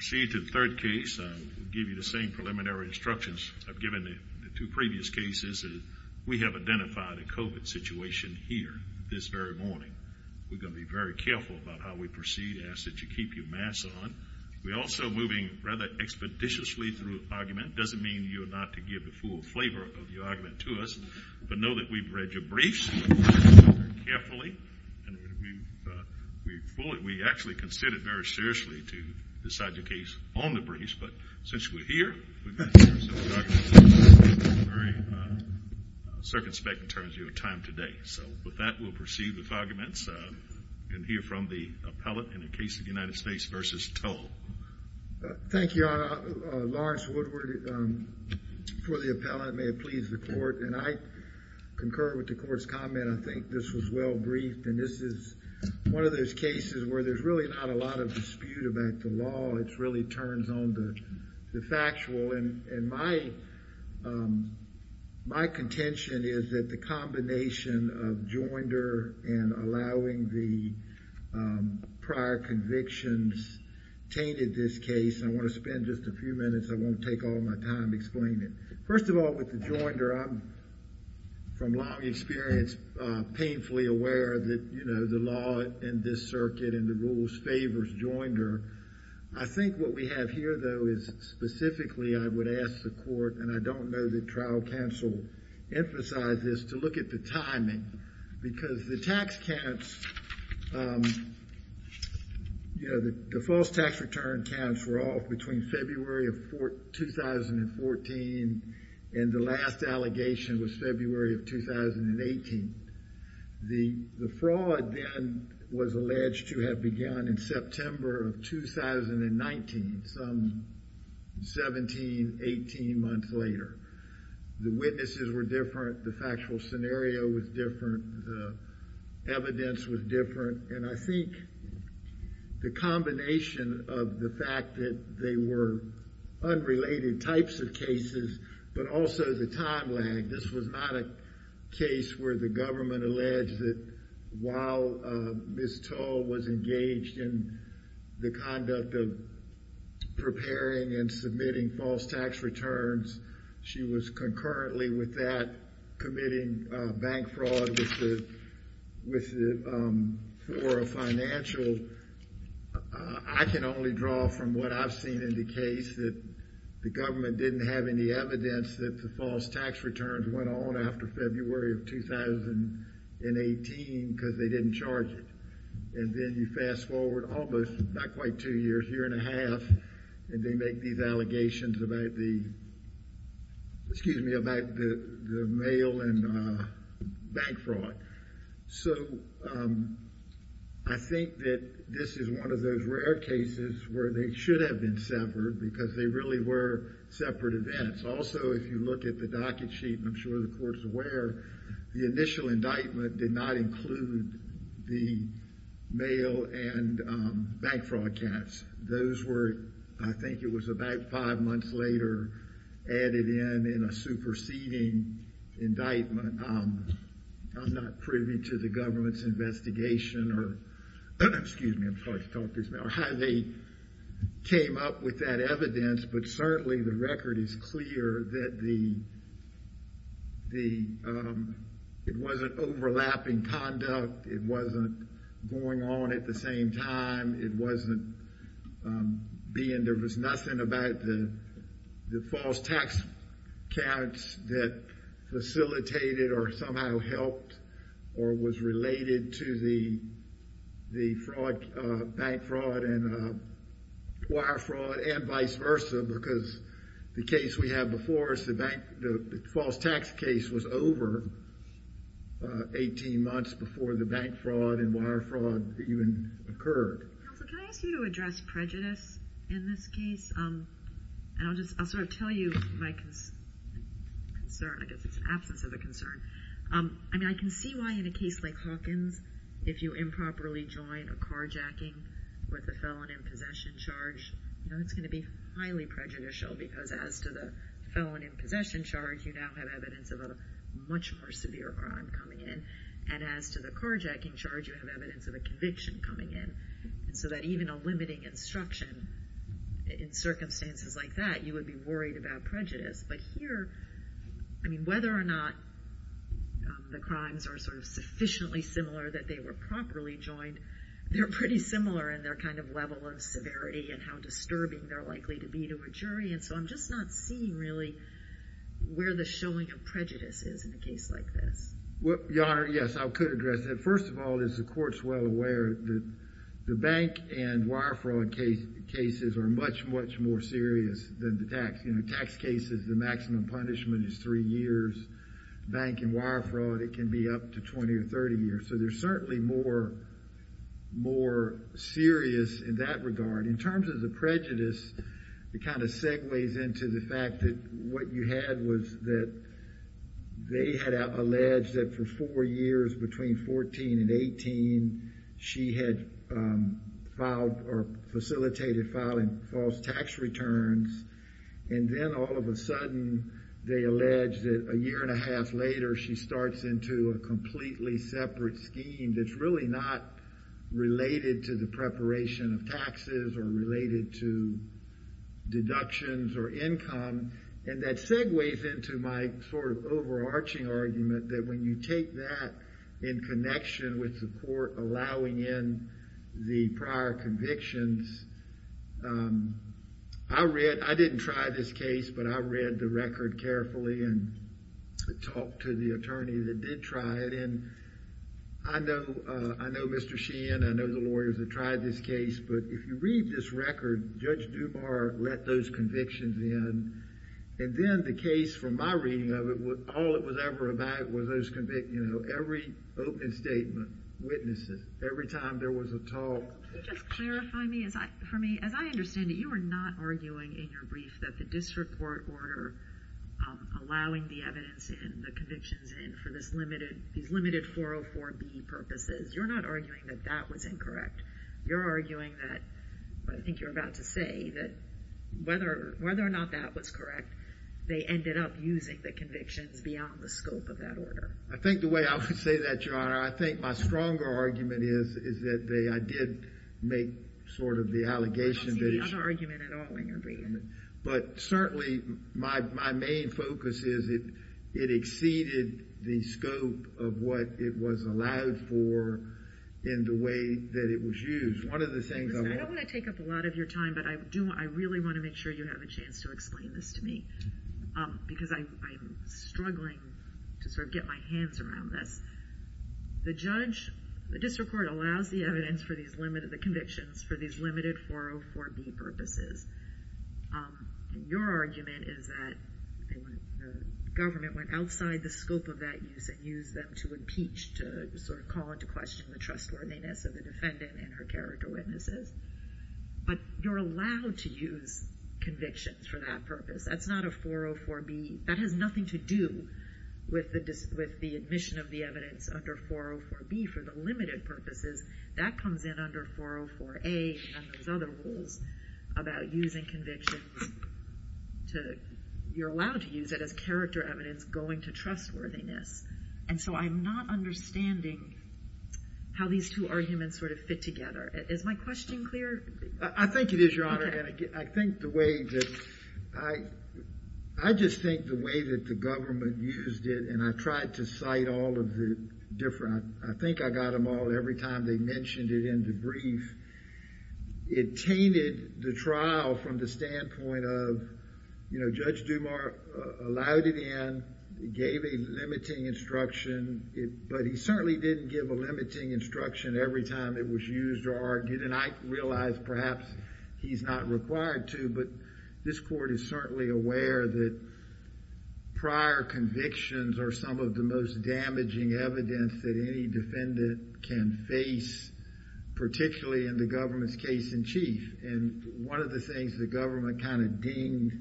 see to the third case, give you the same preliminary instructions I've given the two previous cases. We have identified a covid situation here this very morning. We're going to be very careful about how we proceed. Ask that you keep your masks on. We also moving rather expeditiously through argument doesn't mean you're not to give the full flavor of the argument to us, but know that we've read your briefs carefully and we fully we actually considered very seriously to decide to But since we're here, circumspect in terms of your time today. So with that, we'll proceed with arguments and hear from the appellate in the case of the United States versus toll. Thank you. Lawrence Woodward for the appellate. May it please the court. And I concur with the court's comment. I think this was well briefed. And this is one of those cases where there's really not a lot of dispute about the law. It's really just a matter of the factual. And my my contention is that the combination of joinder and allowing the prior convictions tainted this case. I want to spend just a few minutes. I won't take all my time explaining it. First of all, with the joinder, I'm from long experience, painfully aware that, you know, the law in this circuit and the rules favors joinder. I think what we have here, though, is specifically I would ask the court, and I don't know that trial counsel emphasize this, to look at the timing because the tax counts, you know, the false tax return counts were off between February of 2014. And the last allegation was February of 2018. The fraud then was alleged to have begun in September of 2019, some 17, 18 months later. The witnesses were different. The factual scenario was different. The evidence was different. And I think the combination of the fact that they were unrelated types of cases, but also the time lag. This was not a case where the government alleged that while Ms. Toll was engaged in the conduct of preparing and submitting false tax returns, she was concurrently with that committing bank fraud for a financial. I can only draw from what I've seen in the case that the government didn't have any evidence that the false tax returns went on after February of 2018 because they didn't charge it. And then you fast forward almost, not quite two years, a year and a half, and they make these allegations about the, excuse me, about the mail and bank fraud. So I think that this is one of those rare cases where they should have been severed because they really were separate events. Also, if you look at the docket sheet, and I'm sure the court is aware, the initial indictment did not include the mail and bank fraud counts. Those were, I think it was about five months later, added in in a superseding indictment. I'm not privy to the government's investigation or, excuse me, how they came up with that evidence, but certainly the record is clear that it wasn't overlapping conduct. It wasn't going on at the same time. It wasn't being, there was nothing about the false tax counts that facilitated or somehow helped or was related to the bank fraud and wire fraud and vice versa because the case we have before us, the bank, the false tax case was over 18 months before the bank fraud and wire fraud even occurred. Can I ask you to address prejudice in this case? And I'll just, I'll sort of tell you my concern. I guess it's an absence of a concern. I mean, I can see why in a case like Hawkins, if you improperly join a carjacking with a felon in possession charge, you know, it's going to be highly prejudicial because as to the felon in possession charge, you now have evidence of a much more severe crime coming in. And as to the carjacking charge, you have evidence of a conviction coming in. And so that even a limiting instruction in circumstances like that, you would be worried about prejudice. But here, I mean, whether or not the crimes are sort of sufficiently similar that they were properly joined, they're pretty similar in their kind of level of severity and how disturbing they're likely to be to a jury. And so I'm just not seeing really where the showing of prejudice is in a case like this. Well, Your Honor, yes, I could address that. First of all, as the court's well aware, the bank and wire fraud cases are much, much more serious than the tax. You know, tax cases, the maximum punishment is three years. Bank and wire fraud, it can be up to 20 or 30 years. So they're certainly more, more serious in that regard. In terms of the prejudice, it kind of segues into the fact that what you had was that they had alleged that the felon was a felon. That for four years, between 14 and 18, she had filed or facilitated filing false tax returns. And then all of a sudden, they allege that a year and a half later, she starts into a completely separate scheme that's really not related to the preparation of taxes or related to deductions or income. And that segues into my sort of overarching argument that when you take that in connection with the court allowing in the prior convictions, I read, I didn't try this case, but I read the record carefully and talked to the attorney that did try it. And I know, I know Mr. Sheehan, I know the lawyers that tried this case, but if you read this record, Judge Dubar let those convictions in. And then the case, from my reading of it, all it was ever about was those, you know, every open statement, witnesses, every time there was a talk. Can you just clarify for me, as I understand it, you are not arguing in your brief that the district court order allowing the evidence in, the convictions in, for this limited, these limited 404B purposes, you're not arguing that that was incorrect. You're arguing that, I think you're about to say, that whether or not that was correct, they ended up using the convictions beyond the scope of that order. I think the way I would say that, Your Honor, I think my stronger argument is, is that they, I did make sort of the allegation that it's. I don't see the other argument at all in your brief. But certainly my, my main focus is it, it exceeded the scope of what it was allowed for in the way that it was used. One of the things. I don't want to take up a lot of your time, but I do, I really want to make sure you have a chance to explain this to me, because I, I'm struggling to sort of get my hands around this. The judge, the district court allows the evidence for these limited, the convictions for these limited 404B purposes. Your argument is that they went, the government went outside the scope of that use and used them to impeach, to sort of call into question the trustworthiness of the defendant and her character witnesses. But you're allowed to use convictions for that purpose. That's not a 404B, that has nothing to do with the, with the admission of the evidence under 404B for the limited purposes. That comes in under 404A, and there's other rules about using convictions to, you're allowed to use it as character evidence going to trustworthiness. And so I'm not understanding how these two arguments sort of fit together. Is my question clear? I think it is, your honor, and I think the way that I, I just think the way that the government used it, and I tried to cite all of the different, I think I got them all, every time they mentioned it in the brief, it tainted the trial from the standpoint of, you know, Judge Dumas allowed it in, gave a limiting instruction, but he certainly didn't give a limiting instruction every time it was used or argued, and I realize perhaps he's not required to, but this court is certainly aware that prior convictions are some of the most damaging evidence that any defendant can face, particularly in the government's case in chief. And one of the things the government kind of dinged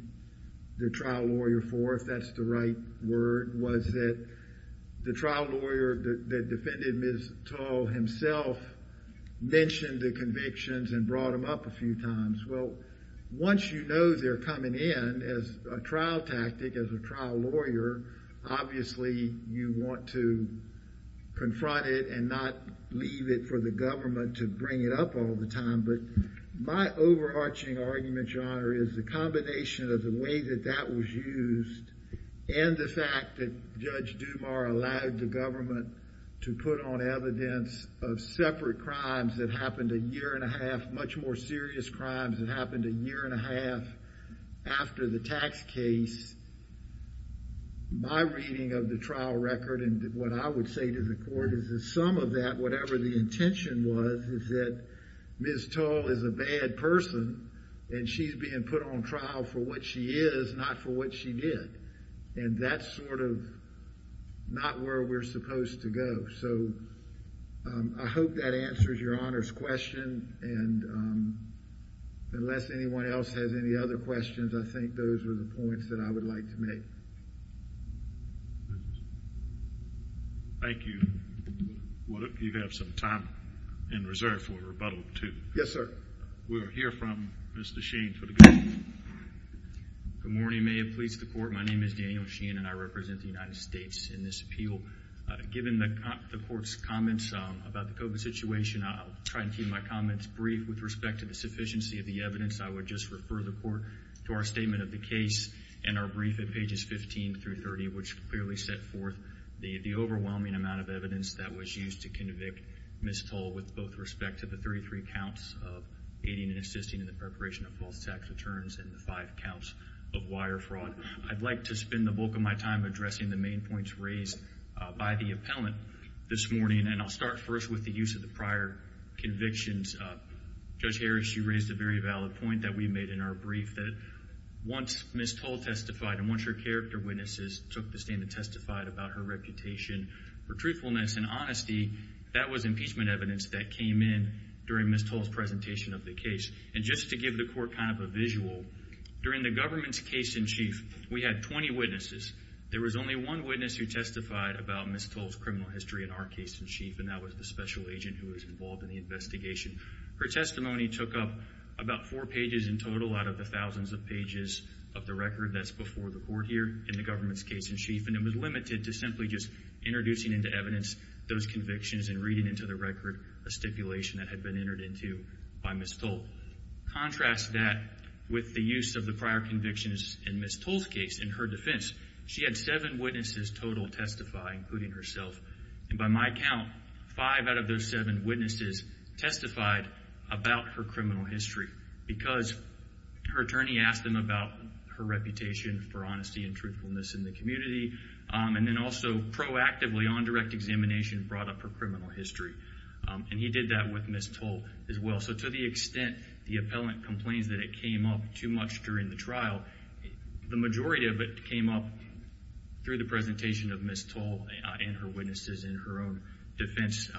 the trial lawyer for, if that's the right word, was that the trial lawyer that defended Ms. Tull himself mentioned the convictions and brought them up a few times. Well, once you know they're coming in as a trial tactic, as a trial lawyer, obviously you want to confront it and not leave it for the government to bring it up all the time, but my overarching argument, Your Honor, is the combination of the way that that was used and the fact that Judge Dumas allowed the government to put on evidence of separate crimes that happened a year and a half, much more serious crimes that happened a year and a half after the tax case, my reading of the trial record and what I would say to the court is that some of that, whatever the intention was, is that Ms. Tull is a bad person, and she's being put on trial for what she is, not for what she did, and that's sort of not where we're supposed to go. So I hope that answers Your Honor's question, and unless anyone else has any other questions, I think those are the points that I would like to make. Thank you. You have some time in reserve for rebuttal, too. Yes, sir. We'll hear from Mr. Sheen. Good morning. May it please the court. My name is Daniel Sheen, and I represent the United States in this appeal. Given the court's comments about the COVID situation, I'll try to keep my comments brief with respect to the sufficiency of the evidence. I would just refer the court to our statement of the case and our brief at pages 15 through 30, which clearly set forth the overwhelming amount of evidence that was used to convict Ms. Tull with both respect to the 33 counts of aiding and assisting in the preparation of false tax returns and the five counts of wire fraud. I'd like to spend the bulk of my time addressing the main points raised by the appellant this morning, and I'll start first with the use of the prior convictions. Judge Harris, you raised a very valid point that we made in our brief that once Ms. Tull testified and once her character witnesses took the stand and testified about her reputation for truthfulness and honesty, that was impeachment evidence that came in during Ms. Tull's presentation of the case. And just to give the court kind of a visual, during the government's case in chief, we had 20 witnesses. There was only one witness who testified about Ms. Tull's criminal history in our case in chief, and that was the special agent who was involved in the investigation. Her testimony took up about four pages in total out of the thousands of pages of the record that's before the court here in the government's case in chief, and it was limited to simply just introducing into evidence those convictions and reading into the record a stipulation that had been entered into by Ms. Tull. Contrast that with the use of the prior convictions in Ms. Tull's case in her defense. She had seven witnesses total testify, including herself. And by my count, five out of those seven witnesses testified about her criminal history because her attorney asked them about her reputation for honesty and truthfulness in the community, and then also proactively on direct examination brought up her criminal history. And he did that with Ms. Tull as well. So to the extent the appellant complains that it came up too much during the trial, the majority of it came up through the presentation of Ms. Tull and her witnesses in her own defense,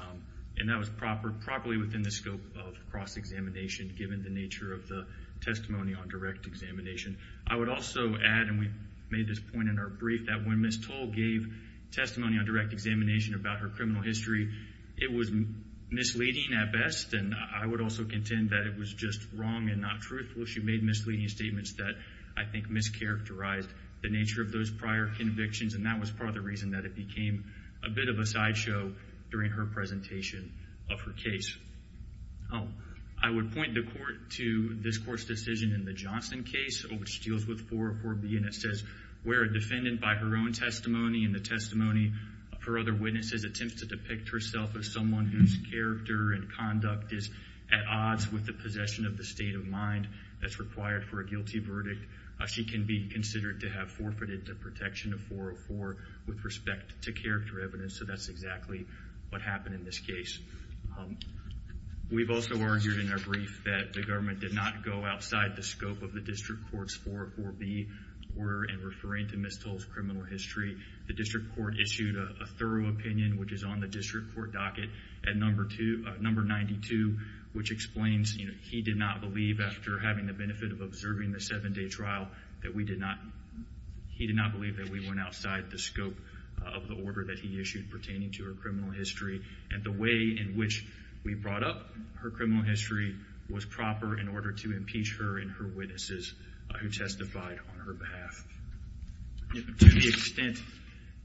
and that was properly within the scope of cross-examination given the nature of the testimony on direct examination. I would also add, and we made this point in our brief, that when Ms. Tull gave testimony on direct examination about her criminal history, it was misleading at best, and I would also contend that it was just wrong and not truthful. She made misleading statements that I think mischaracterized the nature of those prior convictions, and that was part of the reason that it became a bit of a sideshow during her presentation of her case. I would point the court to this court's decision in the Johnson case, which deals with 404B, and it says where a defendant by her own testimony and the testimony of her other witnesses attempts to depict herself as someone whose character and conduct is at odds with the possession of the state of mind that's required for a guilty verdict, she can be considered to have forfeited the protection of 404 with respect to character evidence. So that's exactly what happened in this case. We've also argued in our brief that the government did not go outside the scope of the district court's 404B order in referring to Ms. Tull's criminal history. The district court issued a thorough opinion, which is on the district court docket, at number 92, which explains he did not believe, after having the benefit of observing the seven-day trial, that we went outside the scope of the order that he issued pertaining to her criminal history. And the way in which we brought up her criminal history was proper in order to impeach her and her witnesses who testified on her behalf. To the extent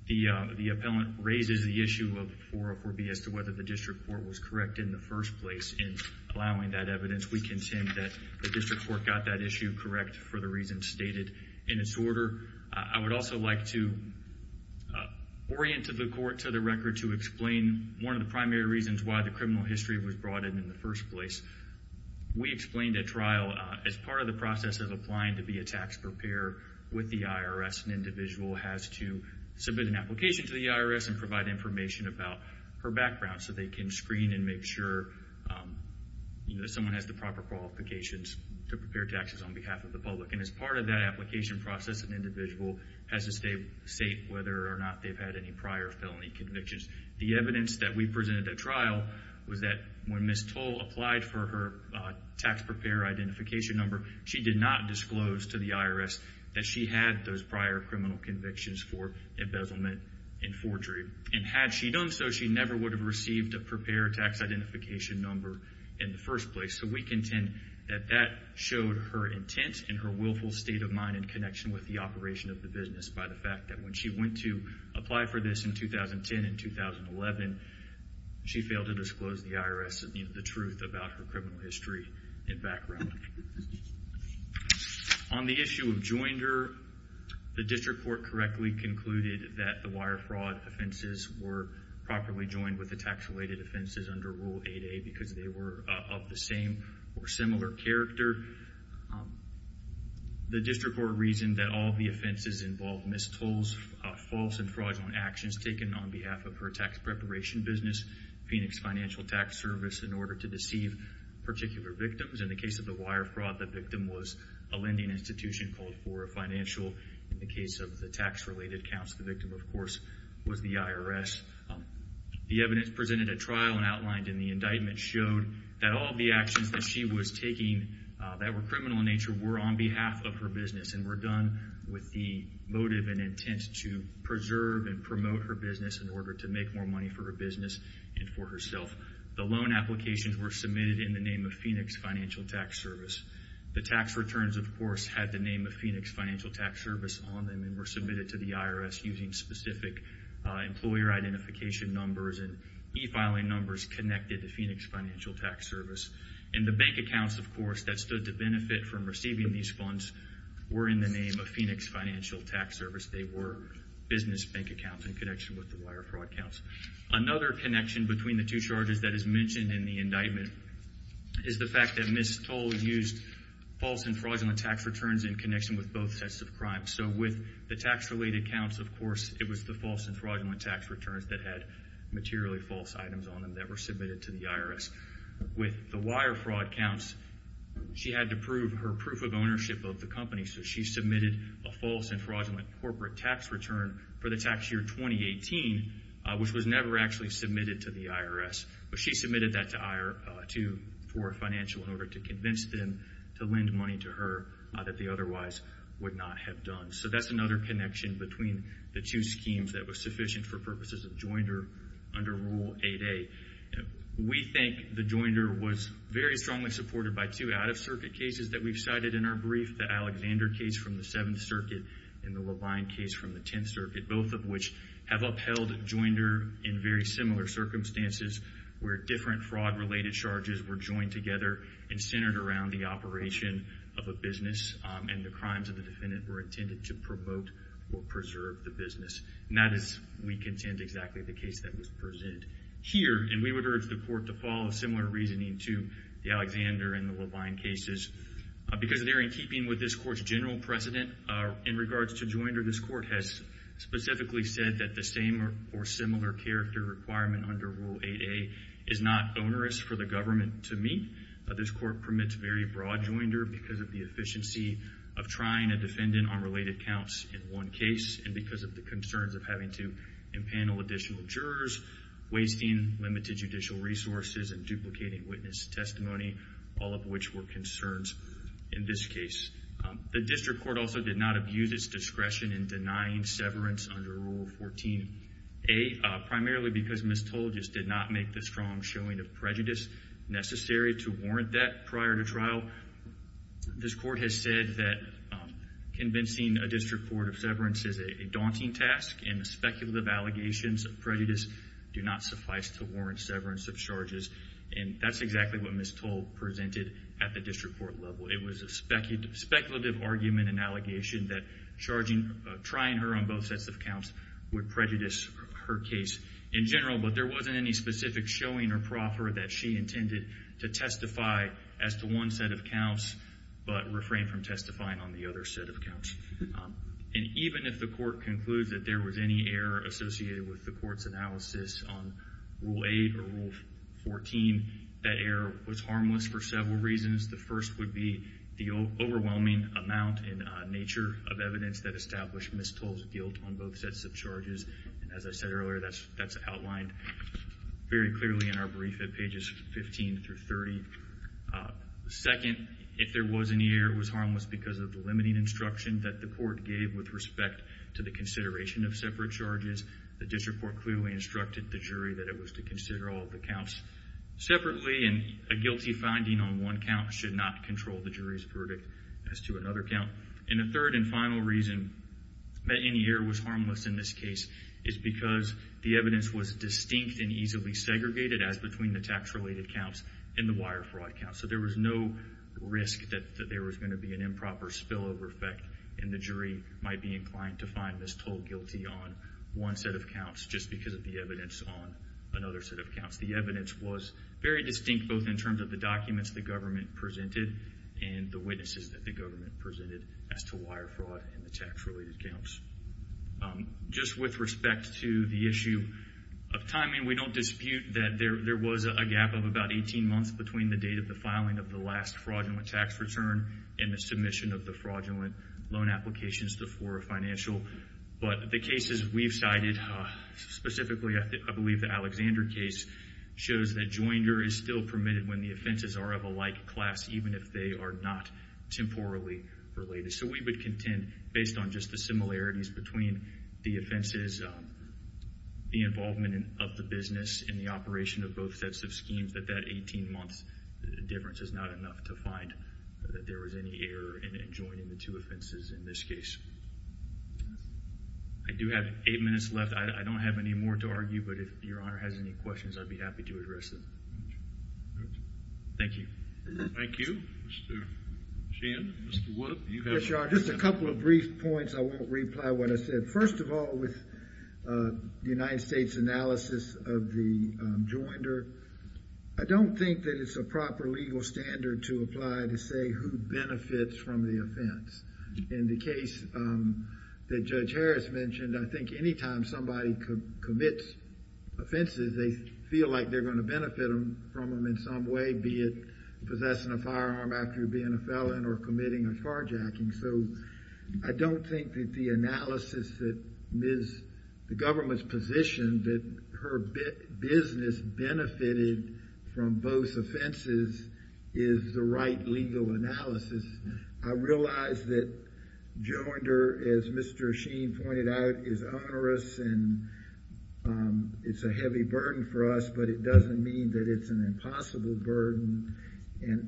the appellant raises the issue of 404B as to whether the district court was correct in the first place in allowing that evidence, we contend that the district court got that issue correct for the reasons stated in its order. I would also like to orient the court to the record to explain one of the primary reasons why the criminal history was brought in in the first place. We explained at trial, as part of the process of applying to be a tax preparer with the IRS, an individual has to submit an application to the IRS and provide information about her background so they can screen and make sure someone has the proper qualifications to prepare taxes on behalf of the public. And as part of that application process, an individual has to state whether or not they've had any prior felony convictions. The evidence that we presented at trial was that when Ms. Tull applied for her tax preparer identification number, she did not disclose to the IRS that she had those prior criminal convictions for embezzlement and forgery. And had she done so, she never would have received a tax preparer identification number in the first place. So we contend that that showed her intent and her willful state of mind in connection with the operation of the business by the fact that when she went to apply for this in 2010 and 2011, she failed to disclose to the IRS the truth about her criminal history and background. On the issue of joinder, the district court correctly concluded that the wire fraud offenses were properly joined with the tax-related offenses under Rule 8A because they were of the same or similar character. The district court reasoned that all of the offenses involved missed tolls, false and fraudulent actions taken on behalf of her tax preparation business, Phoenix Financial Tax Service, in order to deceive particular victims. In the case of the wire fraud, the victim was a lending institution called for a financial. In the case of the tax-related counts, the victim, of course, was the IRS. The evidence presented at trial and outlined in the indictment showed that all the actions that she was taking that were criminal in nature were on behalf of her business and were done with the motive and intent to preserve and promote her business in order to make more money for her business and for herself. The loan applications were submitted in the name of Phoenix Financial Tax Service. The tax returns, of course, had the name of Phoenix Financial Tax Service on them and were submitted to the IRS using specific employer identification numbers and e-filing numbers connected to Phoenix Financial Tax Service. And the bank accounts, of course, that stood to benefit from receiving these funds were in the name of Phoenix Financial Tax Service. They were business bank accounts in connection with the wire fraud counts. Another connection between the two charges that is mentioned in the indictment is the fact that Ms. Toll used false and fraudulent tax returns in connection with both sets of crimes. So with the tax-related counts, of course, it was the false and fraudulent tax returns that had materially false items on them that were submitted to the IRS. With the wire fraud counts, she had to prove her proof of ownership of the company, so she submitted a false and fraudulent corporate tax return for the tax year 2018, which was never actually submitted to the IRS. But she submitted that for financial in order to convince them to lend money to her that they otherwise would not have done. So that's another connection between the two schemes that was sufficient for purposes of joinder under Rule 8A. We think the joinder was very strongly supported by two out-of-circuit cases that we've cited in our brief, the Alexander case from the Seventh Circuit and the Levine case from the Tenth Circuit, both of which have upheld joinder in very similar circumstances where different fraud-related charges were joined together and centered around the operation of a business, and the crimes of the defendant were intended to promote or preserve the business. And that is, we contend, exactly the case that was presented here, and we would urge the court to follow similar reasoning to the Alexander and the Levine cases because they're in keeping with this court's general precedent in regards to joinder. This court has specifically said that the same or similar character requirement under Rule 8A is not onerous for the government to meet. This court permits very broad joinder because of the efficiency of trying a defendant on related counts in one case and because of the concerns of having to impanel additional jurors, wasting limited judicial resources, and duplicating witness testimony, all of which were concerns in this case. The district court also did not abuse its discretion in denying severance under Rule 14A, primarily because Ms. Toll just did not make the strong showing of prejudice necessary to warrant that prior to trial. This court has said that convincing a district court of severance is a daunting task, and the speculative allegations of prejudice do not suffice to warrant severance of charges, and that's exactly what Ms. Toll presented at the district court level. It was a speculative argument and allegation that trying her on both sets of counts would prejudice her case in general, but there wasn't any specific showing or proffer that she intended to testify as to one set of counts but refrain from testifying on the other set of counts. Even if the court concludes that there was any error associated with the court's analysis on Rule 8 or Rule 14, that error was harmless for several reasons. The first would be the overwhelming amount and nature of evidence that established Ms. Toll's guilt on both sets of charges. As I said earlier, that's outlined very clearly in our brief at pages 15 through 30. Second, if there was any error, it was harmless because of the limiting instruction that the court gave with respect to the consideration of separate charges. The district court clearly instructed the jury that it was to consider all the counts separately, and a guilty finding on one count should not control the jury's verdict as to another count. And the third and final reason that any error was harmless in this case is because the evidence was distinct and easily segregated as between the tax-related counts and the wire fraud counts, so there was no risk that there was going to be an improper spillover effect, and the jury might be inclined to find Ms. Toll guilty on one set of counts just because of the evidence on another set of counts. The evidence was very distinct both in terms of the documents the government presented and the witnesses that the government presented as to wire fraud and the tax-related counts. Just with respect to the issue of timing, we don't dispute that there was a gap of about 18 months between the date of the filing of the last fraudulent tax return and the submission of the fraudulent loan applications for a financial. But the cases we've cited, specifically I believe the Alexander case, shows that joinder is still permitted when the offenses are of a like class, even if they are not temporally related. So we would contend, based on just the similarities between the offenses, the involvement of the business in the operation of both sets of schemes, that that 18-month difference is not enough to find that there was any error in adjoining the two offenses in this case. I do have eight minutes left. I don't have any more to argue, but if Your Honor has any questions, I'd be happy to address them. Thank you. Thank you. Mr. Sheehan, Mr. Woodup, you have a question. Just a couple of brief points. I won't reply to what I said. First of all, with the United States analysis of the joinder, I don't think that it's a proper legal standard to apply to say who benefits from the offense. In the case that Judge Harris mentioned, I think any time somebody commits offenses, they feel like they're going to benefit from them in some way, be it possessing a firearm after being a felon or committing a farjacking. So I don't think that the analysis that the government's position that her business benefited from both offenses is the right legal analysis. I realize that joinder, as Mr. Sheehan pointed out, is onerous and it's a heavy burden for us, but it doesn't mean that it's an impossible burden,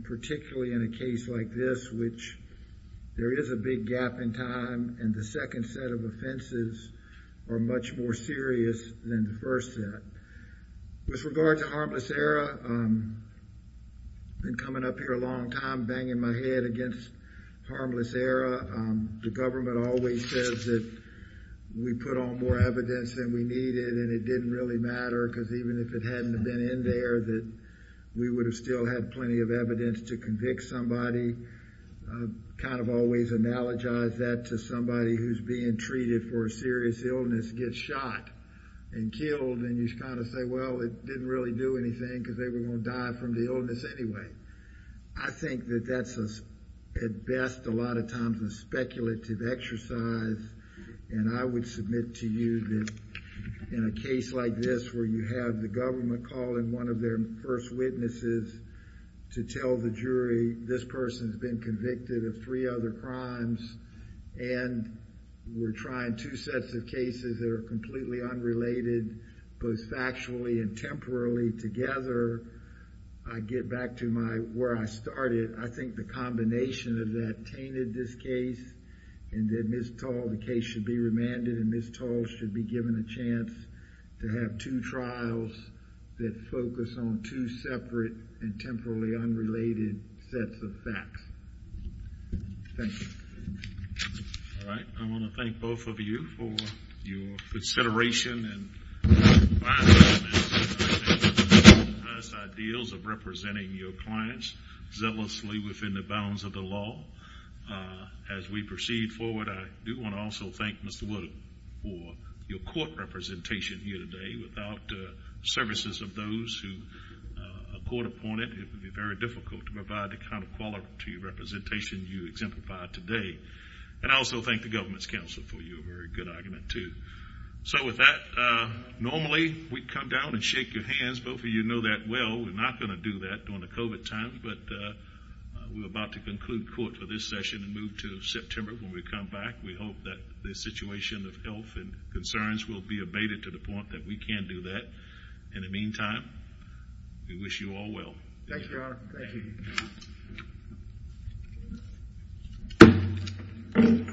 particularly in a case like this, which there is a big gap in time, and the second set of offenses are much more serious than the first set. With regard to harmless error, I've been coming up here a long time banging my head against harmless error. The government always says that we put on more evidence than we needed and it didn't really matter because even if it hadn't been in there, we would have still had plenty of evidence to convict somebody. I kind of always analogize that to somebody who's being treated for a serious illness gets shot and killed and you kind of say, well, it didn't really do anything because they were going to die from the illness anyway. I think that that's at best a lot of times a speculative exercise, and I would submit to you that in a case like this where you have the government calling one of their first witnesses to tell the jury this person's been convicted of three other crimes and we're trying two sets of cases that are completely unrelated, both factually and temporally, together. I get back to where I started. I think the combination of that tainted this case and that Ms. Tall, the case should be remanded and Ms. Tall should be given a chance to have two trials that focus on two separate and temporally unrelated sets of facts. Thank you. All right, I want to thank both of you for your consideration and advice on this. Ideals of representing your clients zealously within the bounds of the law. As we proceed forward, I do want to also thank Mr. Wood for your court representation here today. Without the services of those who are court appointed, it would be very difficult to provide the kind of quality representation you exemplify today. And I also thank the government's counsel for your very good argument, too. So with that, normally we'd come down and shake your hands. Both of you know that well. We're not going to do that during the COVID times, but we're about to conclude court for this session and move to September when we come back. We hope that the situation of health and concerns will be abated to the point that we can do that. In the meantime, we wish you all well. Thank you, Your Honor. Thank you. Thank you.